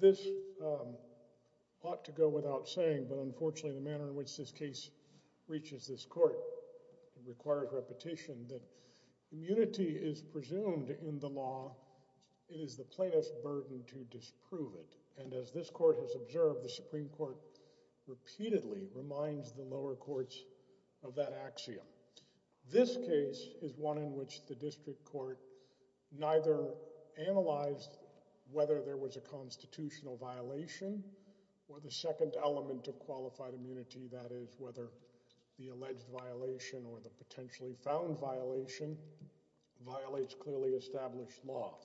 This ought to go without saying, but unfortunately the manner in which this case reaches this court requires repetition that immunity is presumed in the law, it is the plainest burden to disprove it, and as this court has observed, the Supreme Court repeatedly reminds the lower courts of that axiom. This case is one in which the district court neither analyzed whether there was a constitutional violation or the second element of qualified immunity, that is, whether the alleged violation or the potentially found violation violates clearly established law.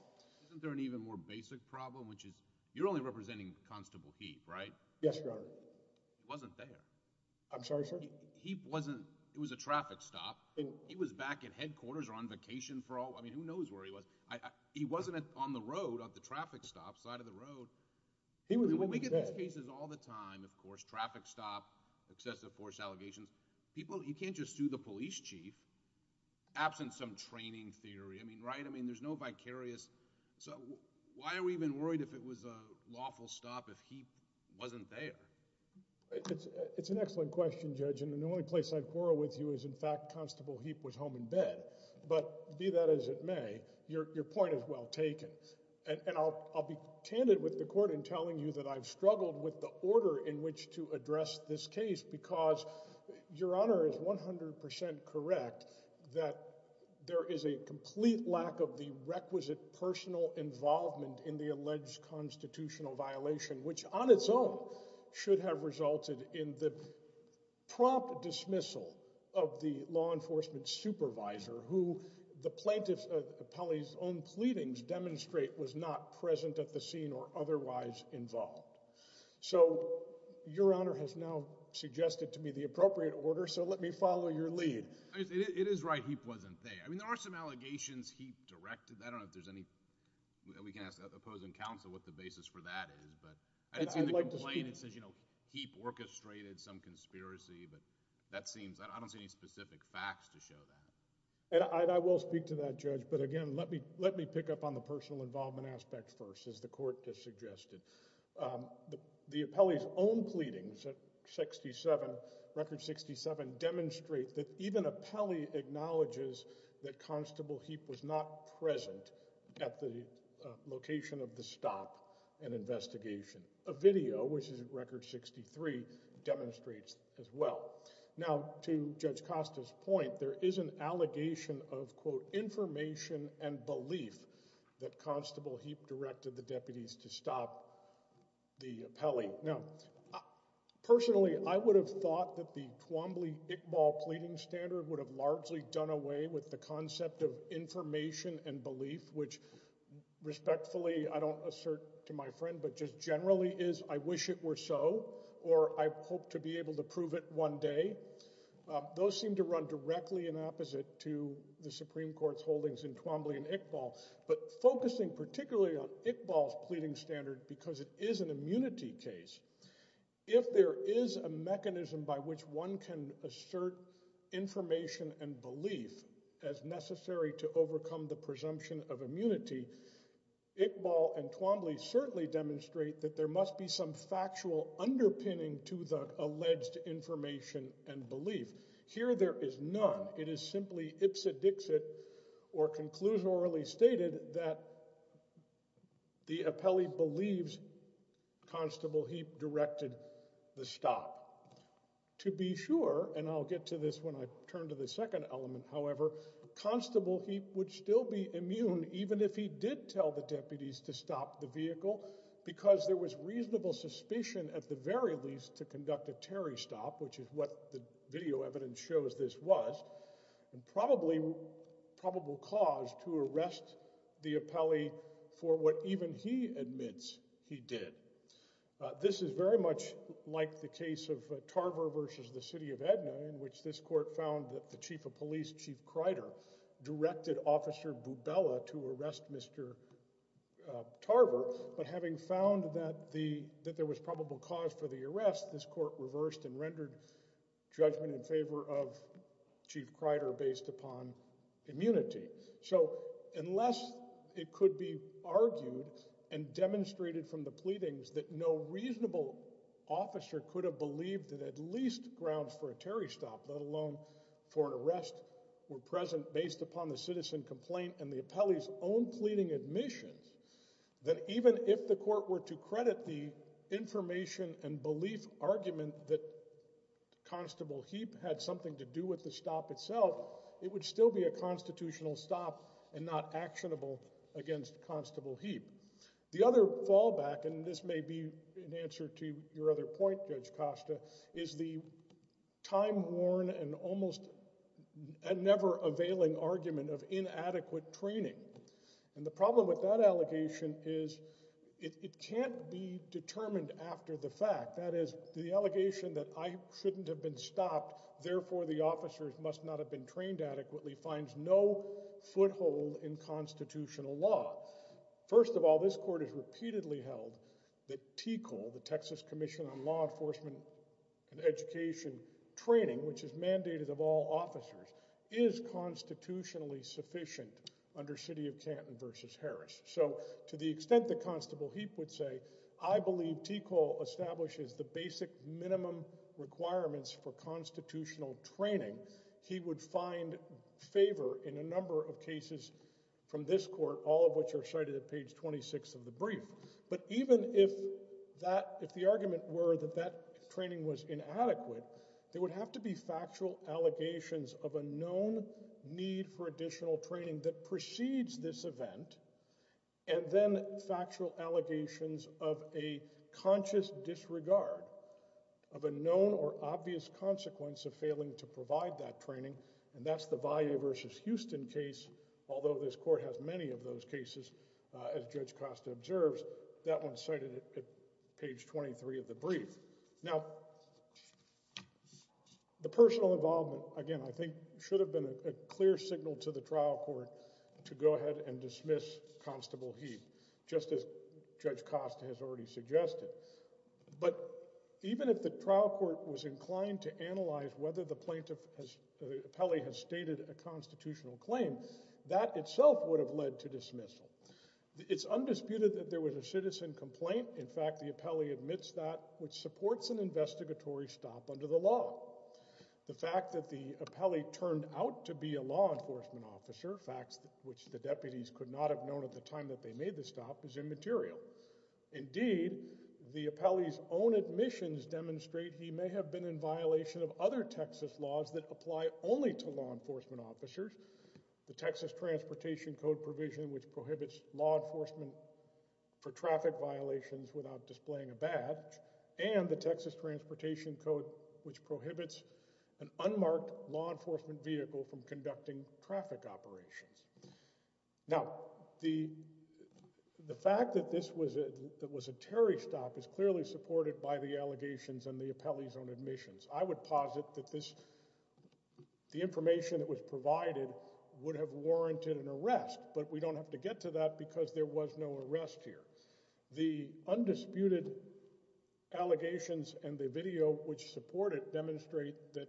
Isn't there an even more basic problem, which is you're only representing Constable Heap, right? Yes, Your Honor. He wasn't there. I'm sorry, sir? I mean, Heap wasn't, it was a traffic stop. He was back at headquarters or on vacation for all, I mean, who knows where he was. He wasn't on the road at the traffic stop, side of the road. He was with his dad. I mean, we get these cases all the time, of course, traffic stop, excessive force allegations. People, you can't just sue the police chief absent some training theory. I mean, right? I mean, there's no vicarious, so why are we even worried if it was a lawful stop if Heap wasn't there? It's an excellent question, Judge, and the only place I'd quarrel with you is in fact Constable Heap was home in bed. But be that as it may, your point is well taken. And I'll be candid with the court in telling you that I've struggled with the order in which to address this case because Your Honor is 100% correct that there is a complete lack of the requisite personal involvement in the alleged constitutional violation, which on its own should have resulted in the prompt dismissal of the law enforcement supervisor who the plaintiff's own pleadings demonstrate was not present at the scene or otherwise involved. So Your Honor has now suggested to me the appropriate order, so let me follow your lead. It is right Heap wasn't there. I mean, there are some allegations Heap directed. I don't know if there's any – we can ask the opposing counsel what the basis for that is. But I didn't see the complaint. It says Heap orchestrated some conspiracy, but that seems – I don't see any specific facts to show that. And I will speak to that, Judge. But again, let me pick up on the personal involvement aspect first, as the court just suggested. The appellee's own pleadings at 67, Record 67, demonstrate that even appellee acknowledges that Constable Heap was not present at the location of the stop and investigation. A video, which is Record 63, demonstrates as well. Now, to Judge Costa's point, there is an allegation of, quote, information and belief that Constable Heap directed the deputies to stop the appellee. Now, personally, I would have thought that the Twombly-Iqbal pleading standard would have largely done away with the concept of information and belief, which respectfully I don't assert to my friend but just generally is I wish it were so or I hope to be able to prove it one day. Those seem to run directly in opposite to the Supreme Court's holdings in Twombly and Iqbal. But focusing particularly on Iqbal's pleading standard because it is an immunity case, if there is a mechanism by which one can assert information and belief as necessary to overcome the presumption of immunity, Iqbal and Twombly certainly demonstrate that there must be some factual underpinning to the alleged information and belief. Here there is none. It is simply ipsa dixit or conclusorily stated that the appellee believes Constable Heap directed the stop. To be sure, and I'll get to this when I turn to the second element, however, Constable Heap would still be immune even if he did tell the deputies to stop the vehicle because there was reasonable suspicion at the very least to conduct a Terry stop, which is what the video evidence shows this was, and probably probable cause to arrest the appellee for what even he admits he did. This is very much like the case of Tarver versus the city of Edna in which this court found that the chief of police, Chief Kreider, directed Officer Bubella to arrest Mr. Tarver, but having found that there was probable cause for the arrest, this court reversed and rendered judgment in favor of Chief Kreider based upon immunity. So unless it could be argued and demonstrated from the pleadings that no reasonable officer could have believed that at least grounds for a Terry stop, let alone for an arrest, were present based upon the citizen complaint and the appellee's own pleading admissions, then even if the court were to credit the information and belief argument that Constable Heap had something to do with the stop itself, it would still be a constitutional stop and not actionable against Constable Heap. The other fallback, and this may be in answer to your other point, Judge Costa, is the time-worn and almost never-availing argument of inadequate training. And the problem with that allegation is it can't be determined after the fact. That is, the allegation that I shouldn't have been stopped, therefore the officers must not have been trained adequately finds no foothold in constitutional law. First of all, this court has repeatedly held that TECOL, the Texas Commission on Law Enforcement and Education Training, which is mandated of all officers, is constitutionally sufficient under City of Canton v. Harris. So to the extent that Constable Heap would say, I believe TECOL establishes the basic minimum requirements for constitutional training, he would find favor in a number of cases from this court, all of which are cited at page 26 of the brief. But even if the argument were that that training was inadequate, there would have to be factual allegations of a known need for additional training that precedes this event, and then factual allegations of a conscious disregard of a known or obvious consequence of failing to provide that training, and that's the Valley v. Houston case, although this court has many of those cases, as Judge Costa observes. That one's cited at page 23 of the brief. Now, the personal involvement, again, I think should have been a clear signal to the trial court to go ahead and dismiss Constable Heap, just as Judge Costa has already suggested. But even if the trial court was inclined to analyze whether the plaintiff has – the appellee has stated a constitutional claim, that itself would have led to dismissal. It's undisputed that there was a citizen complaint. In fact, the appellee admits that, which supports an investigatory stop under the law. The fact that the appellee turned out to be a law enforcement officer, facts which the deputies could not have known at the time that they made the stop, is immaterial. Indeed, the appellee's own admissions demonstrate he may have been in violation of other Texas laws that apply only to law enforcement officers. The Texas Transportation Code provision, which prohibits law enforcement for traffic violations without displaying a badge, and the Texas Transportation Code, which prohibits an unmarked law enforcement vehicle from conducting traffic operations. Now, the fact that this was a – that it was a Terry stop is clearly supported by the allegations and the appellee's own admissions. I would posit that this – the information that was provided would have warranted an arrest, but we don't have to get to that because there was no arrest here. The undisputed allegations and the video which support it demonstrate that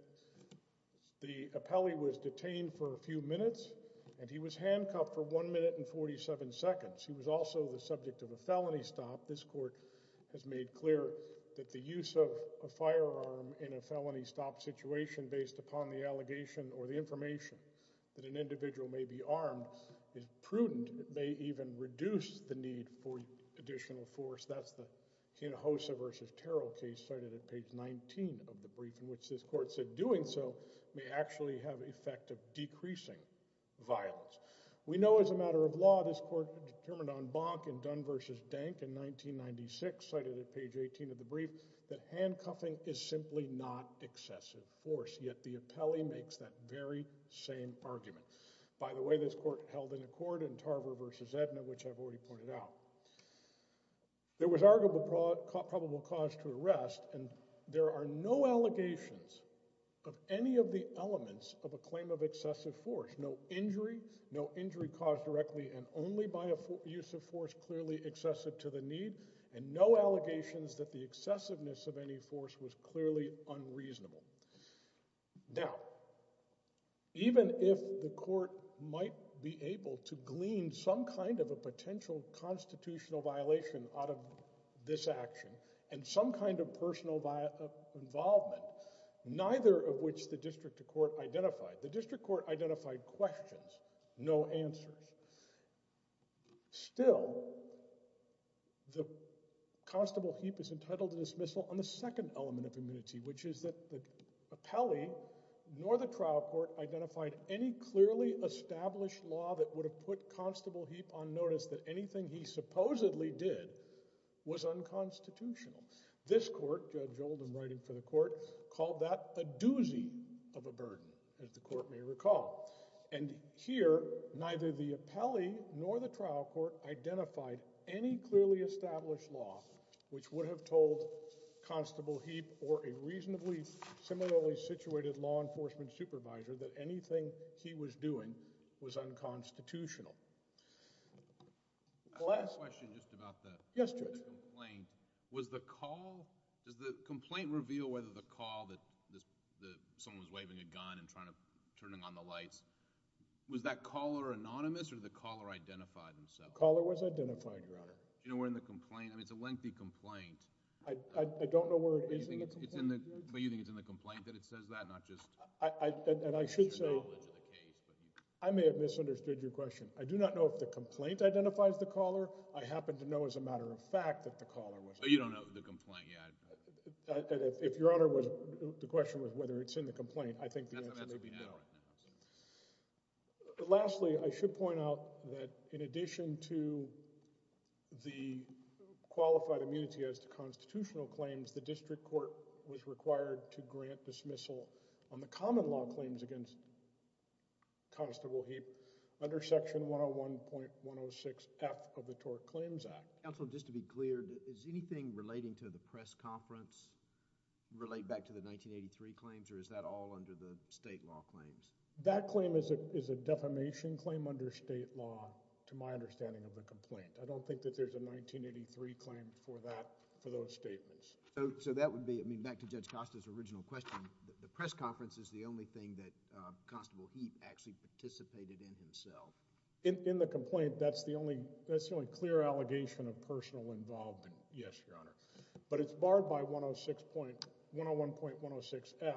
the appellee was detained for a few minutes, and he was handcuffed for one minute and 47 seconds. He was also the subject of a felony stop. This court has made clear that the use of a firearm in a felony stop situation based upon the allegation or the information that an individual may be armed is prudent. It may even reduce the need for additional force. That's the Hinojosa v. Terrell case cited at page 19 of the brief in which this court said doing so may actually have the effect of decreasing violence. We know as a matter of law this court determined on Bonk and Dunn v. Dank in 1996 cited at page 18 of the brief that handcuffing is simply not excessive force, yet the appellee makes that very same argument. By the way, this court held an accord in Tarver v. Edna, which I've already pointed out. There was arguable probable cause to arrest, and there are no allegations of any of the elements of a claim of excessive force. No injury, no injury caused directly and only by a use of force clearly excessive to the need, and no allegations that the excessiveness of any force was clearly unreasonable. Now, even if the court might be able to glean some kind of a potential constitutional violation out of this action and some kind of personal involvement, neither of which the district court identified. The district court identified questions, no answers. Still, the constable Heap is entitled to dismissal on the second element of immunity, which is that the appellee nor the trial court identified any clearly established law that would have put constable Heap on notice that anything he supposedly did was unconstitutional. This court, Judge Oldham writing for the court, called that a doozy of a burden, as the court may recall. And here, neither the appellee nor the trial court identified any clearly established law, which would have told constable Heap or a reasonably similarly situated law enforcement supervisor that anything he was doing was unconstitutional. I have a question just about the complaint. Yes, Judge. Was the call – does the complaint reveal whether the call that someone was waving a gun and trying to turn on the lights – was that caller anonymous or did the caller identify himself? The caller was identified, Your Honor. Do you know where in the complaint – I mean, it's a lengthy complaint. I don't know where it is in the complaint, Judge. But you think it's in the complaint that it says that, not just your knowledge of the case? I may have misunderstood your question. I do not know if the complaint identifies the caller. I happen to know as a matter of fact that the caller was – So you don't know the complaint yet? If, Your Honor, the question was whether it's in the complaint, I think the answer may be no. That's what we know right now. Lastly, I should point out that in addition to the qualified immunity as to constitutional claims, the district court was required to grant dismissal on the common law claims against Constable Heap under Section 101.106F of the Tort Claims Act. Counsel, just to be clear, is anything relating to the press conference relate back to the 1983 claims or is that all under the state law claims? That claim is a defamation claim under state law to my understanding of the complaint. I don't think that there's a 1983 claim for that – for those statements. So that would be – I mean, back to Judge Costa's original question. The press conference is the only thing that Constable Heap actually participated in himself. In the complaint, that's the only clear allegation of personal involvement. Yes, Your Honor. But it's barred by 101.106F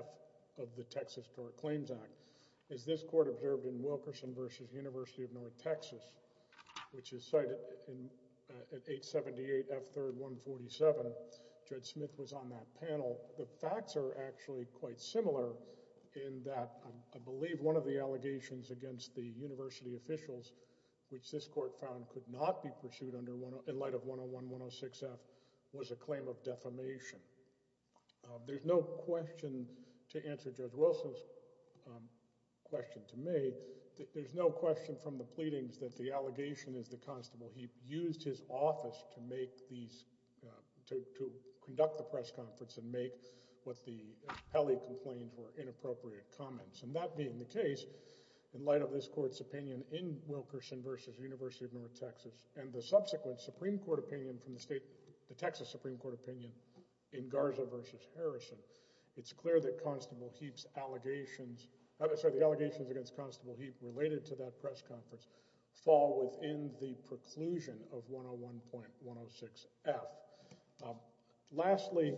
of the Texas Tort Claims Act. As this court observed in Wilkerson v. University of North Texas, which is cited at 878 F. 3rd. 147, Judge Smith was on that panel. The facts are actually quite similar in that I believe one of the allegations against the university officials, which this court found could not be pursued under – in light of 101.106F was a claim of defamation. There's no question to answer Judge Wilson's question to me. There's no question from the pleadings that the allegation is that Constable Heap used his office to make these – to conduct the press conference and make what the Pele complained were inappropriate comments. And that being the case, in light of this court's opinion in Wilkerson v. University of North Texas and the subsequent Supreme Court opinion from the state – the Texas Supreme Court opinion in Garza v. Harrison, it's clear that Constable Heap's allegations – sorry, the allegations against Constable Heap related to that press conference fall within the preclusion of 101.106F. Lastly,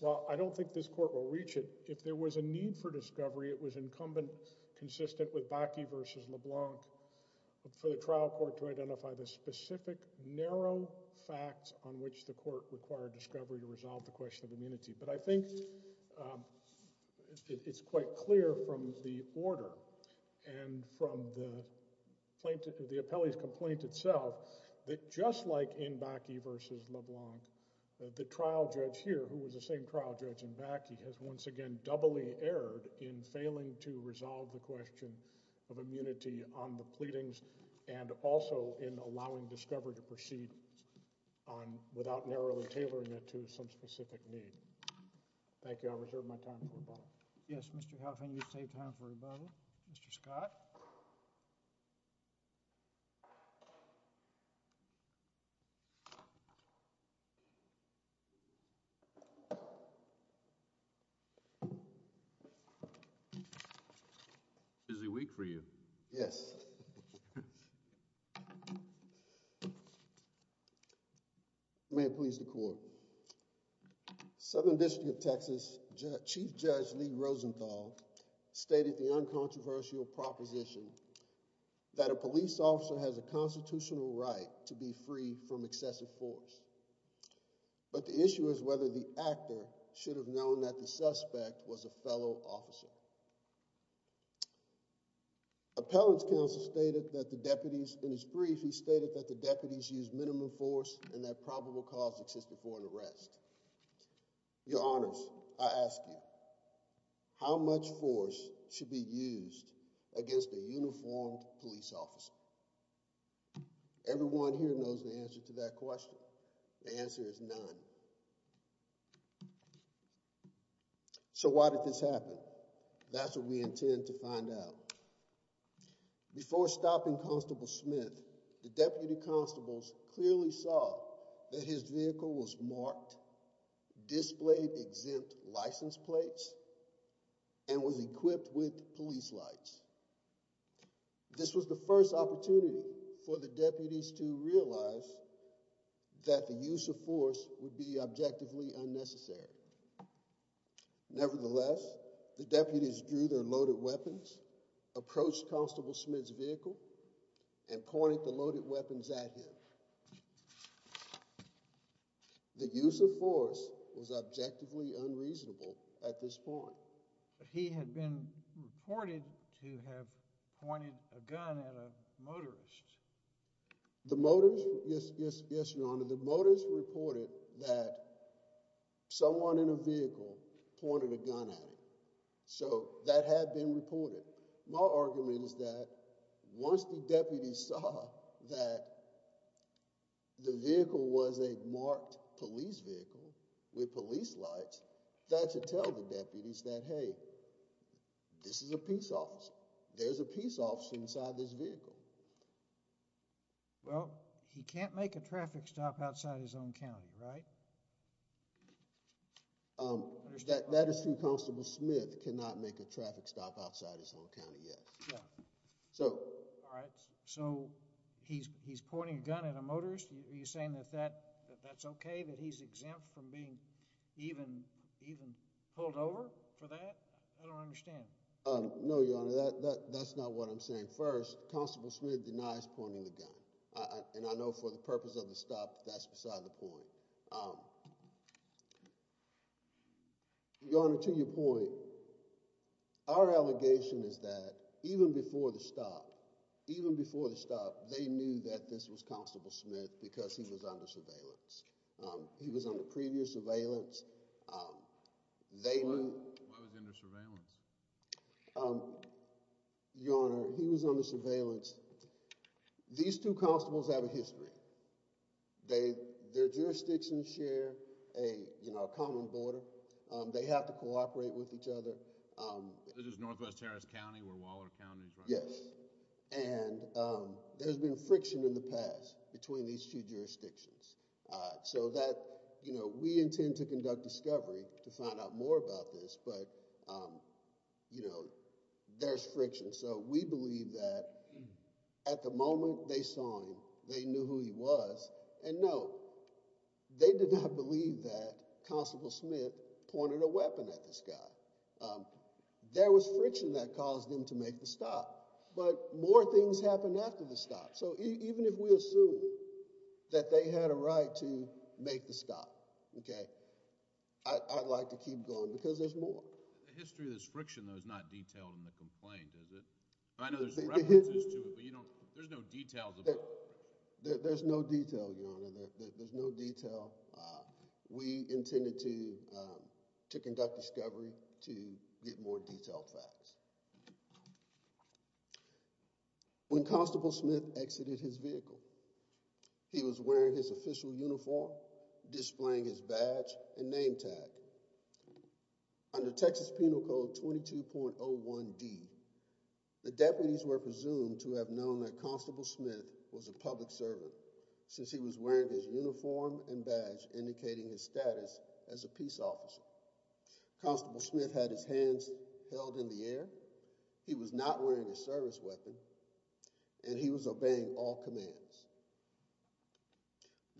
while I don't think this court will reach it, if there was a need for discovery, it was incumbent consistent with Bakke v. LeBlanc for the trial court to identify the specific narrow facts on which the court required discovery to resolve the question of immunity. But I think it's quite clear from the order and from the plaintiff – the appellee's complaint itself that just like in Bakke v. LeBlanc, the trial judge here, who was the same trial judge in Bakke, has once again doubly erred in failing to resolve the question of immunity on the pleadings and also in allowing discovery to proceed on – without narrowly tailoring it to some specific need. Thank you. I'll reserve my time for rebuttal. Yes, Mr. Howe, can you save time for rebuttal? Mr. Scott? Busy week for you. Yes. May it please the court. Southern District of Texas Chief Judge Lee Rosenthal stated the uncontroversial proposition that a police officer has a constitutional right to be free from excessive force. But the issue is whether the actor should have known that the suspect was a fellow officer. Appellant's counsel stated that the deputies – in his brief, he stated that the deputies used minimum force and that probable cause existed for an arrest. Your Honors, I ask you, how much force should be used against a uniformed police officer? Everyone here knows the answer to that question. The answer is none. So why did this happen? That's what we intend to find out. Before stopping Constable Smith, the deputy constables clearly saw that his vehicle was marked, displayed exempt license plates, and was equipped with police lights. This was the first opportunity for the deputies to realize that the use of force would be objectively unnecessary. Nevertheless, the deputies drew their loaded weapons, approached Constable Smith's vehicle, and pointed the loaded weapons at him. The use of force was objectively unreasonable at this point. But he had been reported to have pointed a gun at a motorist. The motorist reported that someone in a vehicle pointed a gun at him. So that had been reported. My argument is that once the deputies saw that the vehicle was a marked police vehicle with police lights, that should tell the deputies that, hey, this is a peace officer. There's a peace officer inside this vehicle. Well, he can't make a traffic stop outside his own county, right? That is true. Constable Smith cannot make a traffic stop outside his own county yet. So he's pointing a gun at a motorist. Are you saying that that's okay? That he's exempt from being even pulled over for that? I don't understand. No, Your Honor, that's not what I'm saying. First, Constable Smith denies pointing the gun. And I know for the purpose of the stop, that's beside the point. Your Honor, to your point, our allegation is that even before the stop, even before the stop, they knew that this was Constable Smith because he was under surveillance. He was under previous surveillance. Why was he under surveillance? Your Honor, he was under surveillance. These two constables have a history. Their jurisdictions share a common border. They have to cooperate with each other. This is Northwest Harris County where Waller County is, right? Yes. And there's been friction in the past between these two jurisdictions. So that, you know, we intend to conduct discovery to find out more about this. But, you know, there's friction. So we believe that at the moment they saw him, they knew who he was. And no, they did not believe that Constable Smith pointed a weapon at this guy. There was friction that caused him to make the stop. But more things happened after the stop. So even if we assume that they had a right to make the stop, okay, I'd like to keep going because there's more. The history of this friction, though, is not detailed in the complaint, is it? I know there's references to it, but there's no details about it. There's no detail, Your Honor. There's no detail. We intended to conduct discovery to get more detailed facts. When Constable Smith exited his vehicle, he was wearing his official uniform, displaying his badge and name tag. Under Texas Penal Code 22.01d, the deputies were presumed to have known that Constable Smith was a public servant since he was wearing his uniform and badge indicating his status as a peace officer. Constable Smith had his hands held in the air. He was not wearing a service weapon and he was obeying all commands.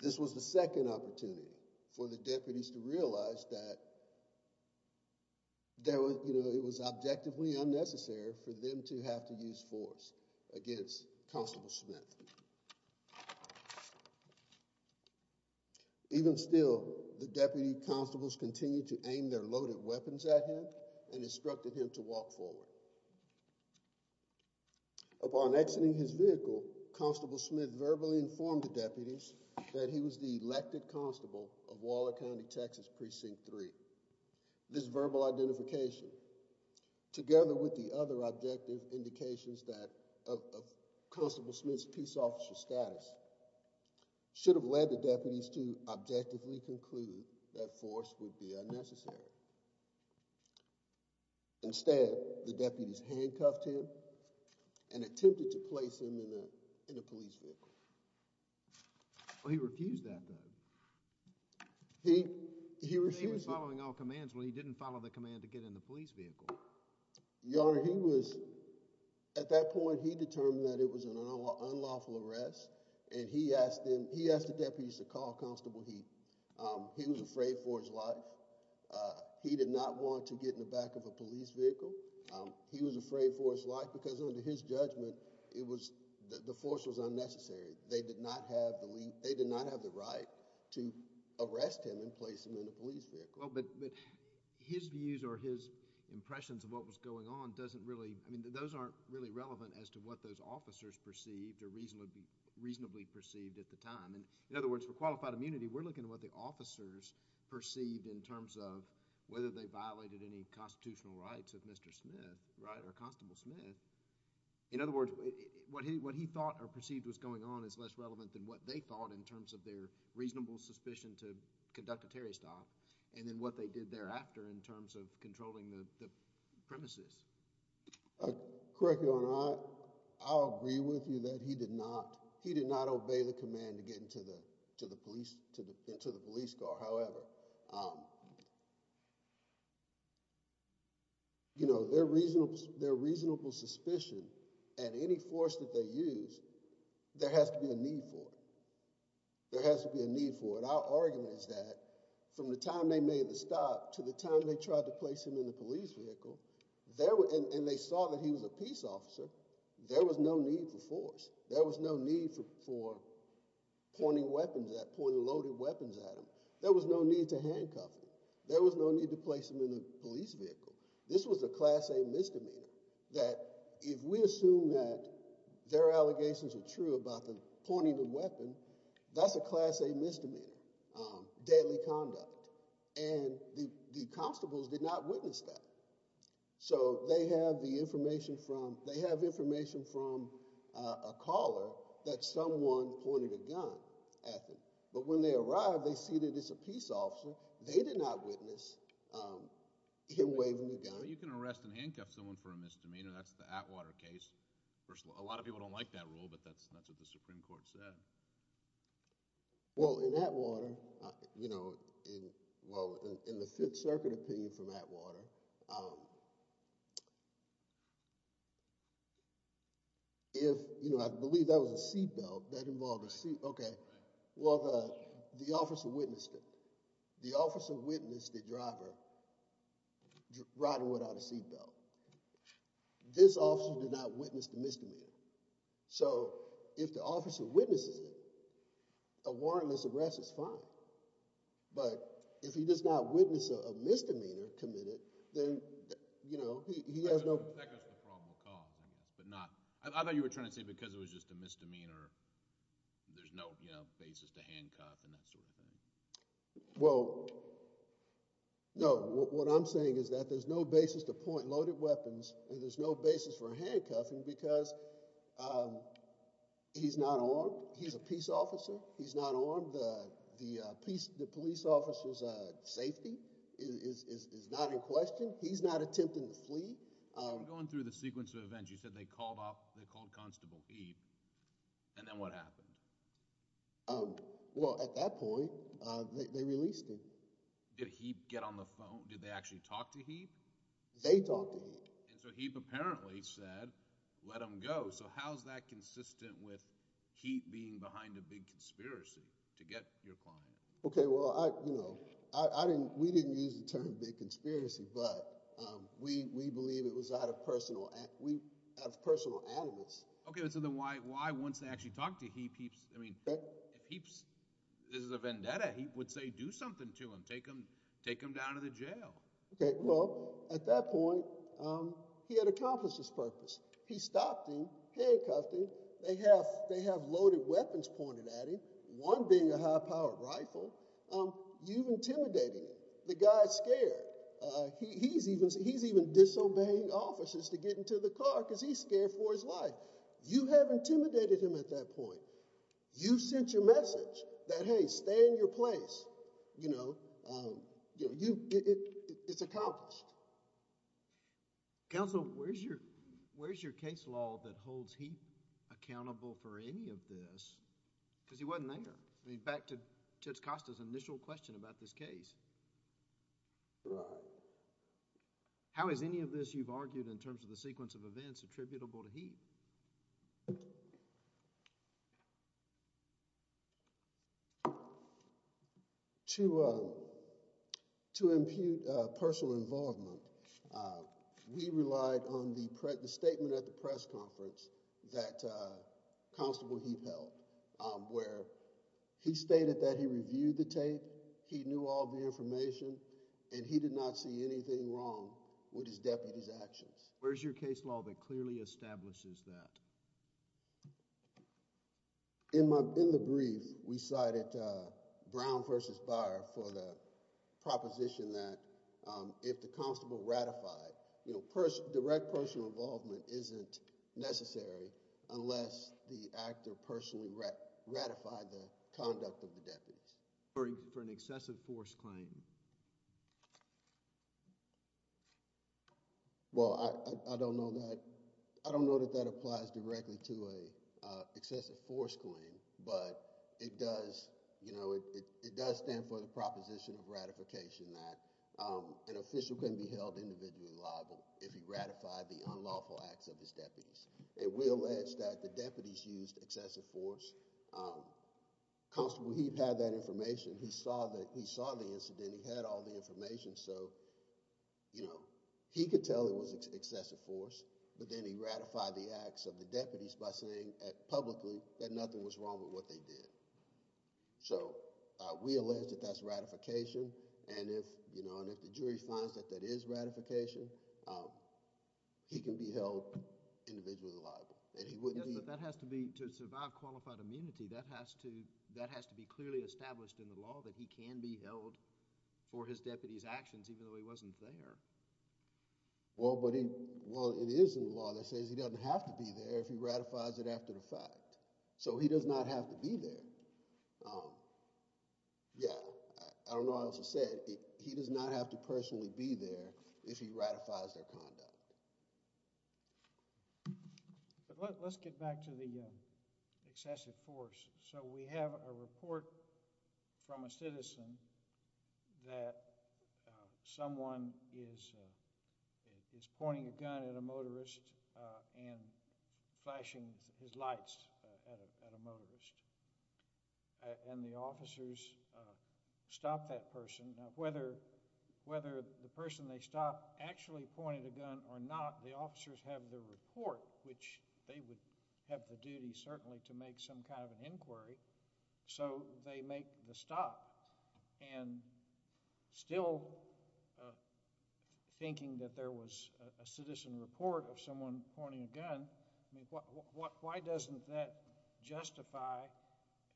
This was the second opportunity for the deputies to realize that there was, you know, it was objectively unnecessary for them to have to use force against Constable Smith. Even still, the deputy constables continued to aim their loaded weapons at him and instructed him to walk forward. Upon exiting his vehicle, Constable Smith verbally informed the deputies that he was the elected constable of Waller County, Texas, Precinct 3. This verbal identification, together with the other objective indications of Constable Smith's peace officer status, should have led the deputies to objectively conclude that force would be unnecessary. Instead, the deputies handcuffed him and attempted to place him in a police vehicle. Well, he refused that though. He was following all commands when he didn't follow the command to get in the police vehicle. Your Honor, at that point he determined that it was an unlawful arrest and he asked the deputies to call Constable Heath. He was afraid for his life. He did not want to get in the back of a police vehicle. He was afraid for his life because under his judgment, the force was unnecessary. They did not have the right to arrest him and place him in a police vehicle. Well, but his views or his impressions of what was going on doesn't really, I mean, those aren't really relevant as to what those officers perceived or reasonably perceived at the time. In other words, for qualified immunity, we're looking at what the officers perceived in terms of whether they violated any constitutional rights of Mr. Smith, right, or Constable Smith. In other words, what he thought or perceived was going on is less relevant than what they thought in terms of their reasonable suspicion to conduct a Terry stop and then what they did thereafter in terms of controlling the premises. Correct Your Honor, I agree with you that he did not, he did not obey the command to get into the police car. However, you know, their reasonable suspicion and any force that they used, there has to be a need for it. Our argument is that from the time they made the stop to the time they tried to place him in the police vehicle, and they saw that he was a peace officer, there was no need for force. There was no need for pointing loaded weapons at him. There was no need to handcuff him. There was no need to place him in a police vehicle. This was a class A misdemeanor that if we assume that their allegations are true about the pointing the weapon, that's a class A misdemeanor, deadly conduct. And the constables did not witness that. So they have the information from, they have information from a caller that someone pointed a gun at them. But when they arrived, they see that it's a peace officer. They did not witness him waving the gun. You can arrest and handcuff someone for a misdemeanor. That's the Atwater case. A lot of people don't like that rule, but that's what the Supreme Court said. Well, in Atwater, you know, in the Fifth Circuit opinion from Atwater, if, you know, I believe that was a seat belt. That involved a seat belt. Well, the officer witnessed it. The officer witnessed the driver riding without a seat belt. This officer did not witness the misdemeanor. So if the officer witnesses it, a warrantless arrest is fine. But if he does not witness a misdemeanor committed, then, you know, he has no— Well, that goes to the probable cause, I guess. But not—I thought you were trying to say because it was just a misdemeanor, there's no, you know, basis to handcuff and that sort of thing. Well, no. What I'm saying is that there's no basis to point loaded weapons, and there's no basis for handcuffing because he's not armed. He's a peace officer. He's not armed. The police officer's safety is not in question. He's not attempting to flee. Going through the sequence of events, you said they called off—they called Constable Heap. And then what happened? Well, at that point, they released him. Did Heap get on the phone? Did they actually talk to Heap? They talked to him. And so Heap apparently said, let him go. So how's that consistent with Heap being behind a big conspiracy to get your client? Okay, well, you know, I didn't—we didn't use the term big conspiracy, but we believe it was out of personal—out of personal animus. Okay, so then why once they actually talked to Heap, Heap's—I mean, Heap's—this is a vendetta. Heap would say, do something to him. Take him down to the jail. Okay, well, at that point, he had accomplished his purpose. He stopped him, handcuffed him. They have loaded weapons pointed at him, one being a high-powered rifle. You've intimidated him. The guy's scared. He's even—he's even disobeying officers to get into the car because he's scared for his life. You have intimidated him at that point. You sent your message that, hey, stay in your place. You know, you—it's accomplished. Counsel, where's your—where's your case law that holds Heap accountable for any of this? Because he wasn't there. I mean, back to Tuts Costa's initial question about this case. Right. How is any of this, you've argued, in terms of the sequence of events attributable to Heap? To—to impute personal involvement, we relied on the statement at the press conference that Constable Heap held, where he stated that he reviewed the tape, he knew all the information, and he did not see anything wrong with his deputy's actions. Where's your case law that clearly establishes that? In my—in the brief, we cited Brown v. Byer for the proposition that if the constable ratified, you know, direct personal involvement isn't necessary unless the actor personally ratified the conduct of the deputies. For an excessive force claim. Well, I don't know that—I don't know that that applies directly to an excessive force claim, but it does, you know, it does stand for the proposition of ratification that an official can be held individually liable if he ratified the unlawful acts of his deputies. It will edge that the deputies used excessive force. Constable Heap had that information. He saw the—he saw the incident. He had all the information, so, you know, he could tell it was excessive force, but then he ratified the acts of the deputies by saying publicly that nothing was wrong with what they did. So, we allege that that's ratification, and if, you know, and if the jury finds that that is ratification, he can be held individually liable, and he wouldn't be— Yes, but that has to be—to survive qualified immunity, that has to—that has to be clearly established in the law that he can be held for his deputy's actions even though he wasn't there. Well, but he—well, it is in the law that says he doesn't have to be there if he ratifies it after the fact. So, he does not have to be there. Yeah, I don't know what else to say. He does not have to personally be there if he ratifies their conduct. But let's get back to the excessive force. So, we have a report from a citizen that someone is pointing a gun at a motorist and flashing his lights at a motorist, and the officers stop that person. Now, whether the person they stop actually pointed a gun or not, the officers have the report, which they would have the duty certainly to make some kind of an inquiry, so they make the stop. And still thinking that there was a citizen report of someone pointing a gun, I mean, why doesn't that justify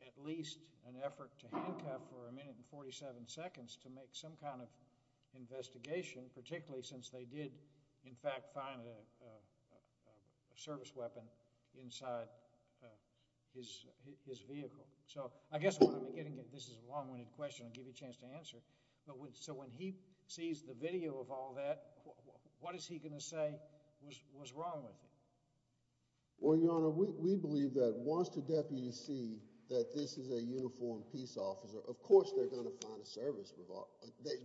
at least an effort to handcuff for a minute and 47 seconds to make some kind of investigation, particularly since they did, in fact, find a service weapon inside his vehicle? So, I guess what I'm getting at—this is a long-winded question. I'll give you a chance to answer. So, when he sees the video of all that, what is he going to say was wrong with it? Well, Your Honor, we believe that once the deputy sees that this is a uniformed peace officer, of course they're going to find a service revolver.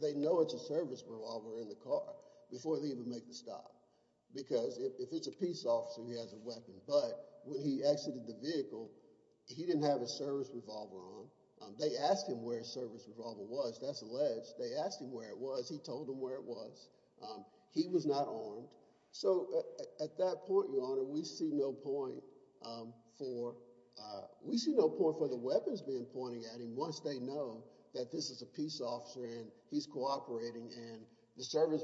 They know it's a service revolver in the car before they even make the stop, because if it's a peace officer, he has a weapon. But when he exited the vehicle, he didn't have a service revolver on. They asked him where his service revolver was. That's alleged. They asked him where it was. He told them where it was. He was not armed. So, at that point, Your Honor, we see no point for—we see no point for the weapons men pointing at him once they know that this is a peace officer and he's cooperating and the service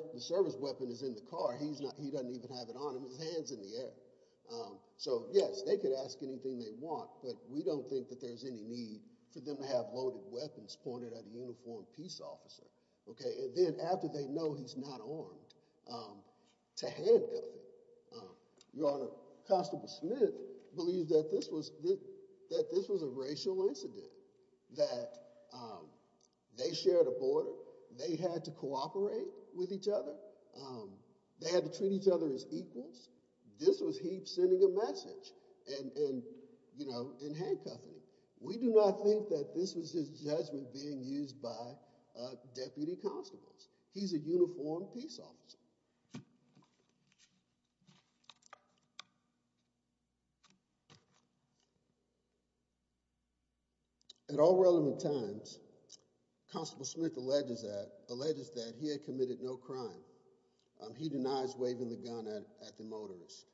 weapon is in the car. He doesn't even have it on him. His hand's in the air. So, yes, they could ask anything they want, but we don't think that there's any need for them to have loaded weapons pointed at a uniformed peace officer. And then after they know he's not armed, to handcuff him. Your Honor, Constable Smith believes that this was a racial incident, that they shared a border. They had to cooperate with each other. They had to treat each other as equals. This was he sending a message and, you know, and handcuffing him. We do not think that this was his judgment being used by a deputy constable. He's a uniformed peace officer. At all relevant times, Constable Smith alleges that he had committed no crime. He denies waving the gun at the motorist.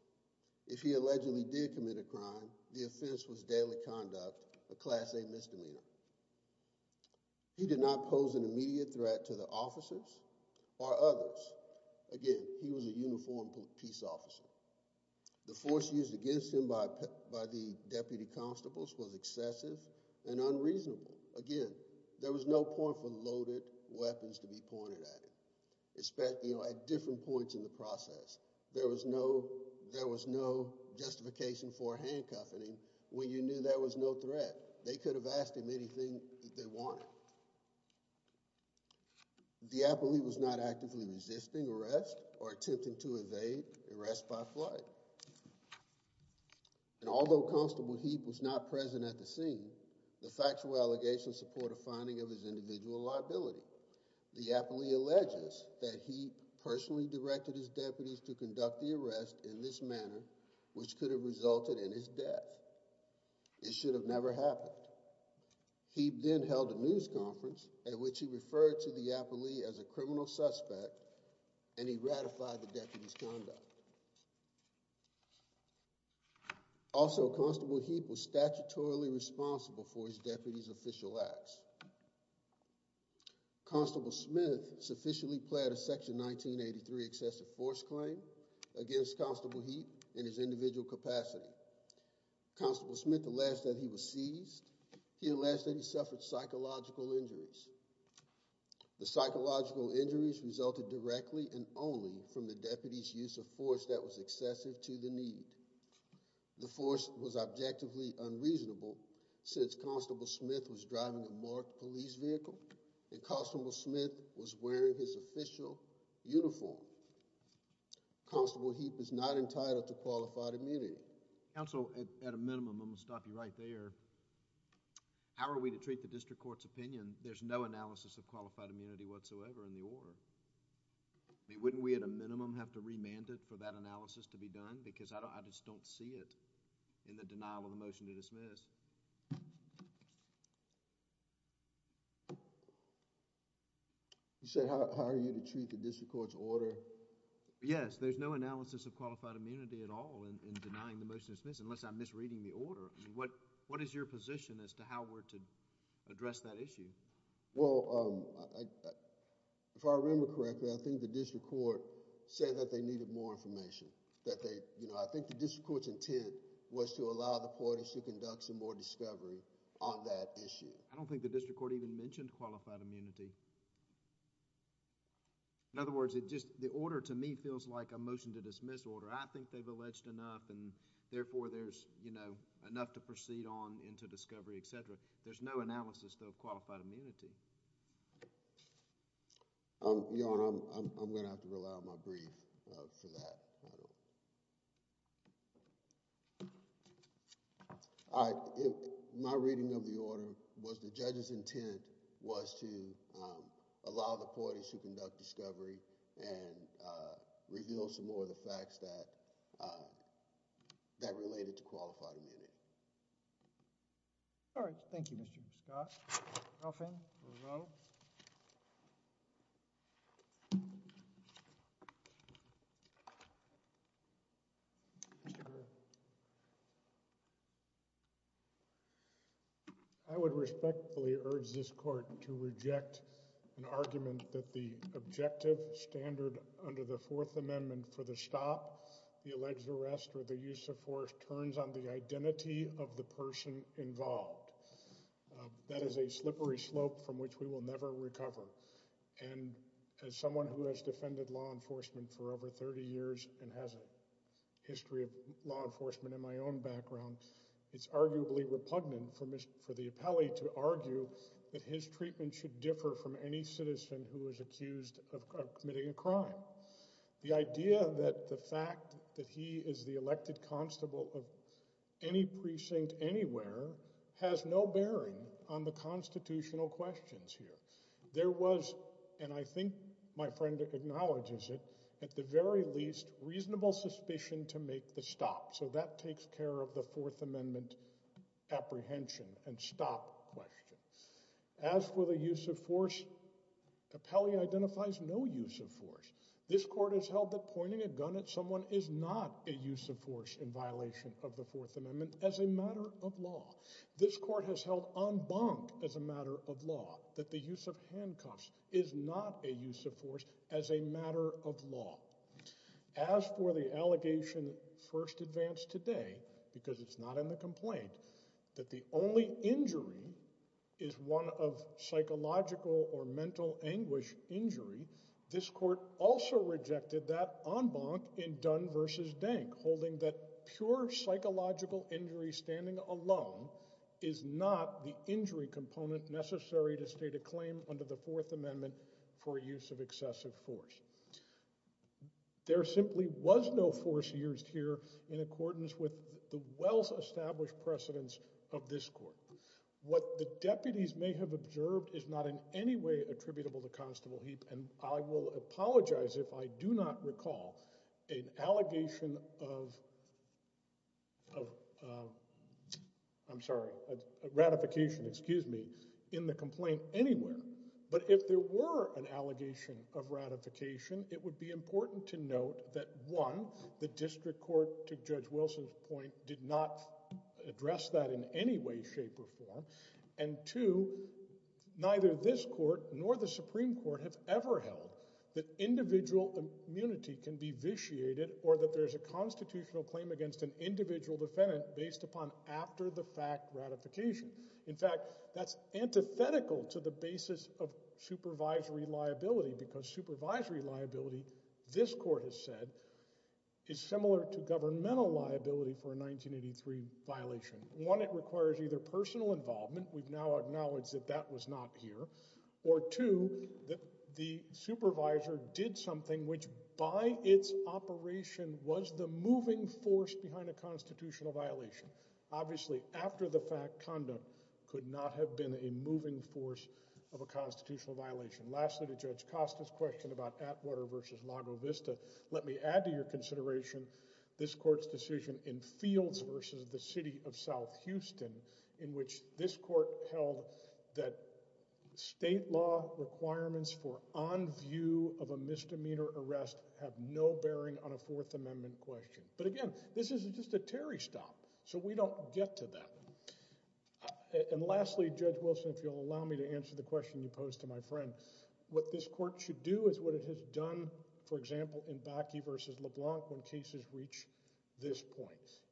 If he allegedly did commit a crime, the offense was daily conduct, a Class A misdemeanor. He did not pose an immediate threat to the officers or others. Again, he was a uniformed peace officer. The force used against him by the deputy constables was excessive and unreasonable. Again, there was no point for loaded weapons to be pointed at him. At different points in the process, there was no justification for handcuffing him when you knew there was no threat. They could have asked him anything they wanted. The appellee was not actively resisting arrest or attempting to evade arrest by flight. And although Constable Heap was not present at the scene, the factual allegations support a finding of his individual liability. The appellee alleges that he personally directed his deputies to conduct the arrest in this manner, which could have resulted in his death. It should have never happened. He then held a news conference at which he referred to the appellee as a criminal suspect, and he ratified the deputy's conduct. Also, Constable Heap was statutorily responsible for his deputy's official acts. Constable Smith sufficiently pled a Section 1983 excessive force claim against Constable Heap in his individual capacity. Constable Smith alleged that he was seized. He alleged that he suffered psychological injuries. The psychological injuries resulted directly and only from the deputy's use of force that was excessive to the need. The force was objectively unreasonable since Constable Smith was driving a marked police vehicle and Constable Smith was wearing his official uniform. Constable Heap is not entitled to qualified immunity. Counsel, at a minimum, I'm going to stop you right there. How are we to treat the district court's opinion? There's no analysis of qualified immunity whatsoever in the order. I mean, wouldn't we at a minimum have to remand it for that analysis to be done? Because I just don't see it in the denial of the motion to dismiss. You said how are you to treat the district court's order? Yes, there's no analysis of qualified immunity at all in denying the motion to dismiss unless I'm misreading the order. What is your position as to how we're to address that issue? Well, if I remember correctly, I think the district court said that they needed more information. I think the district court's intent was to allow the parties to conduct some more discovery on that issue. I don't think the district court even mentioned qualified immunity. In other words, the order to me feels like a motion to dismiss order. I think they've alleged enough and therefore there's enough to proceed on into discovery, etc. There's no analysis though of qualified immunity. Your Honor, I'm going to have to rely on my brief for that. My reading of the order was the judge's intent was to allow the parties to conduct discovery and reveal some more of the facts that related to qualified immunity. All right. Thank you, Mr. Scott. Nothing? No. I would respectfully urge this court to reject an argument that the objective standard under the Fourth Amendment for the stop, the alleged arrest, or the use of force turns on the identity of the person involved. That is a slippery slope from which we will never recover. And as someone who has defended law enforcement for over 30 years and has a history of law enforcement in my own background, it's arguably repugnant for the appellee to argue that his treatment should differ from any citizen who is accused of committing a crime. Now, the idea that the fact that he is the elected constable of any precinct anywhere has no bearing on the constitutional questions here. There was, and I think my friend acknowledges it, at the very least reasonable suspicion to make the stop. So that takes care of the Fourth Amendment apprehension and stop question. As for the use of force, appellee identifies no use of force. This court has held that pointing a gun at someone is not a use of force in violation of the Fourth Amendment as a matter of law. This court has held en banc as a matter of law, that the use of handcuffs is not a use of force as a matter of law. As for the allegation first advanced today, because it's not in the complaint, that the only injury is one of psychological or mental anguish injury, this court also rejected that en banc in Dunn v. Dank, holding that pure psychological injury standing alone is not the injury component necessary to state a claim under the Fourth Amendment for use of excessive force. There simply was no force used here in accordance with the well-established precedence of this court. What the deputies may have observed is not in any way attributable to Constable Heap, and I will apologize if I do not recall an allegation of ratification in the complaint anywhere. But if there were an allegation of ratification, it would be important to note that one, the district court, to Judge Wilson's point, did not address that in any way, shape, or form. And two, neither this court nor the Supreme Court have ever held that individual immunity can be vitiated or that there's a constitutional claim against an individual defendant based upon after-the-fact ratification. In fact, that's antithetical to the basis of supervisory liability, because supervisory liability, this court has said, is similar to governmental liability for a 1983 violation. One, it requires either personal involvement, we've now acknowledged that that was not here, or two, that the supervisor did something which by its operation was the moving force behind a constitutional violation. Obviously, after-the-fact condom could not have been a moving force of a constitutional violation. Lastly, to Judge Costa's question about Atwater v. Lago Vista, let me add to your consideration this court's decision in Fields v. the City of South Houston, in which this court held that state law requirements for on view of a misdemeanor arrest have no bearing on a Fourth Amendment question. But again, this is just a Terry stop, so we don't get to that. And lastly, Judge Wilson, if you'll allow me to answer the question you posed to my friend, what this court should do is what it has done, for example, in Bakke v. LeBlanc when cases reach this point.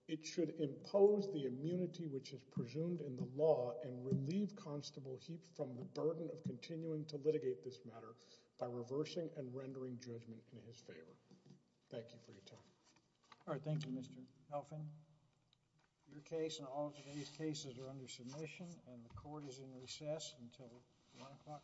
It should impose the immunity which is presumed in the law and relieve Constable Heap from the burden of continuing to litigate this matter by reversing and rendering judgment in his favor. Thank you for your time. All right, thank you, Mr. Elfin. Your case and all of today's cases are under submission and the court is in recess until 1 o'clock tomorrow.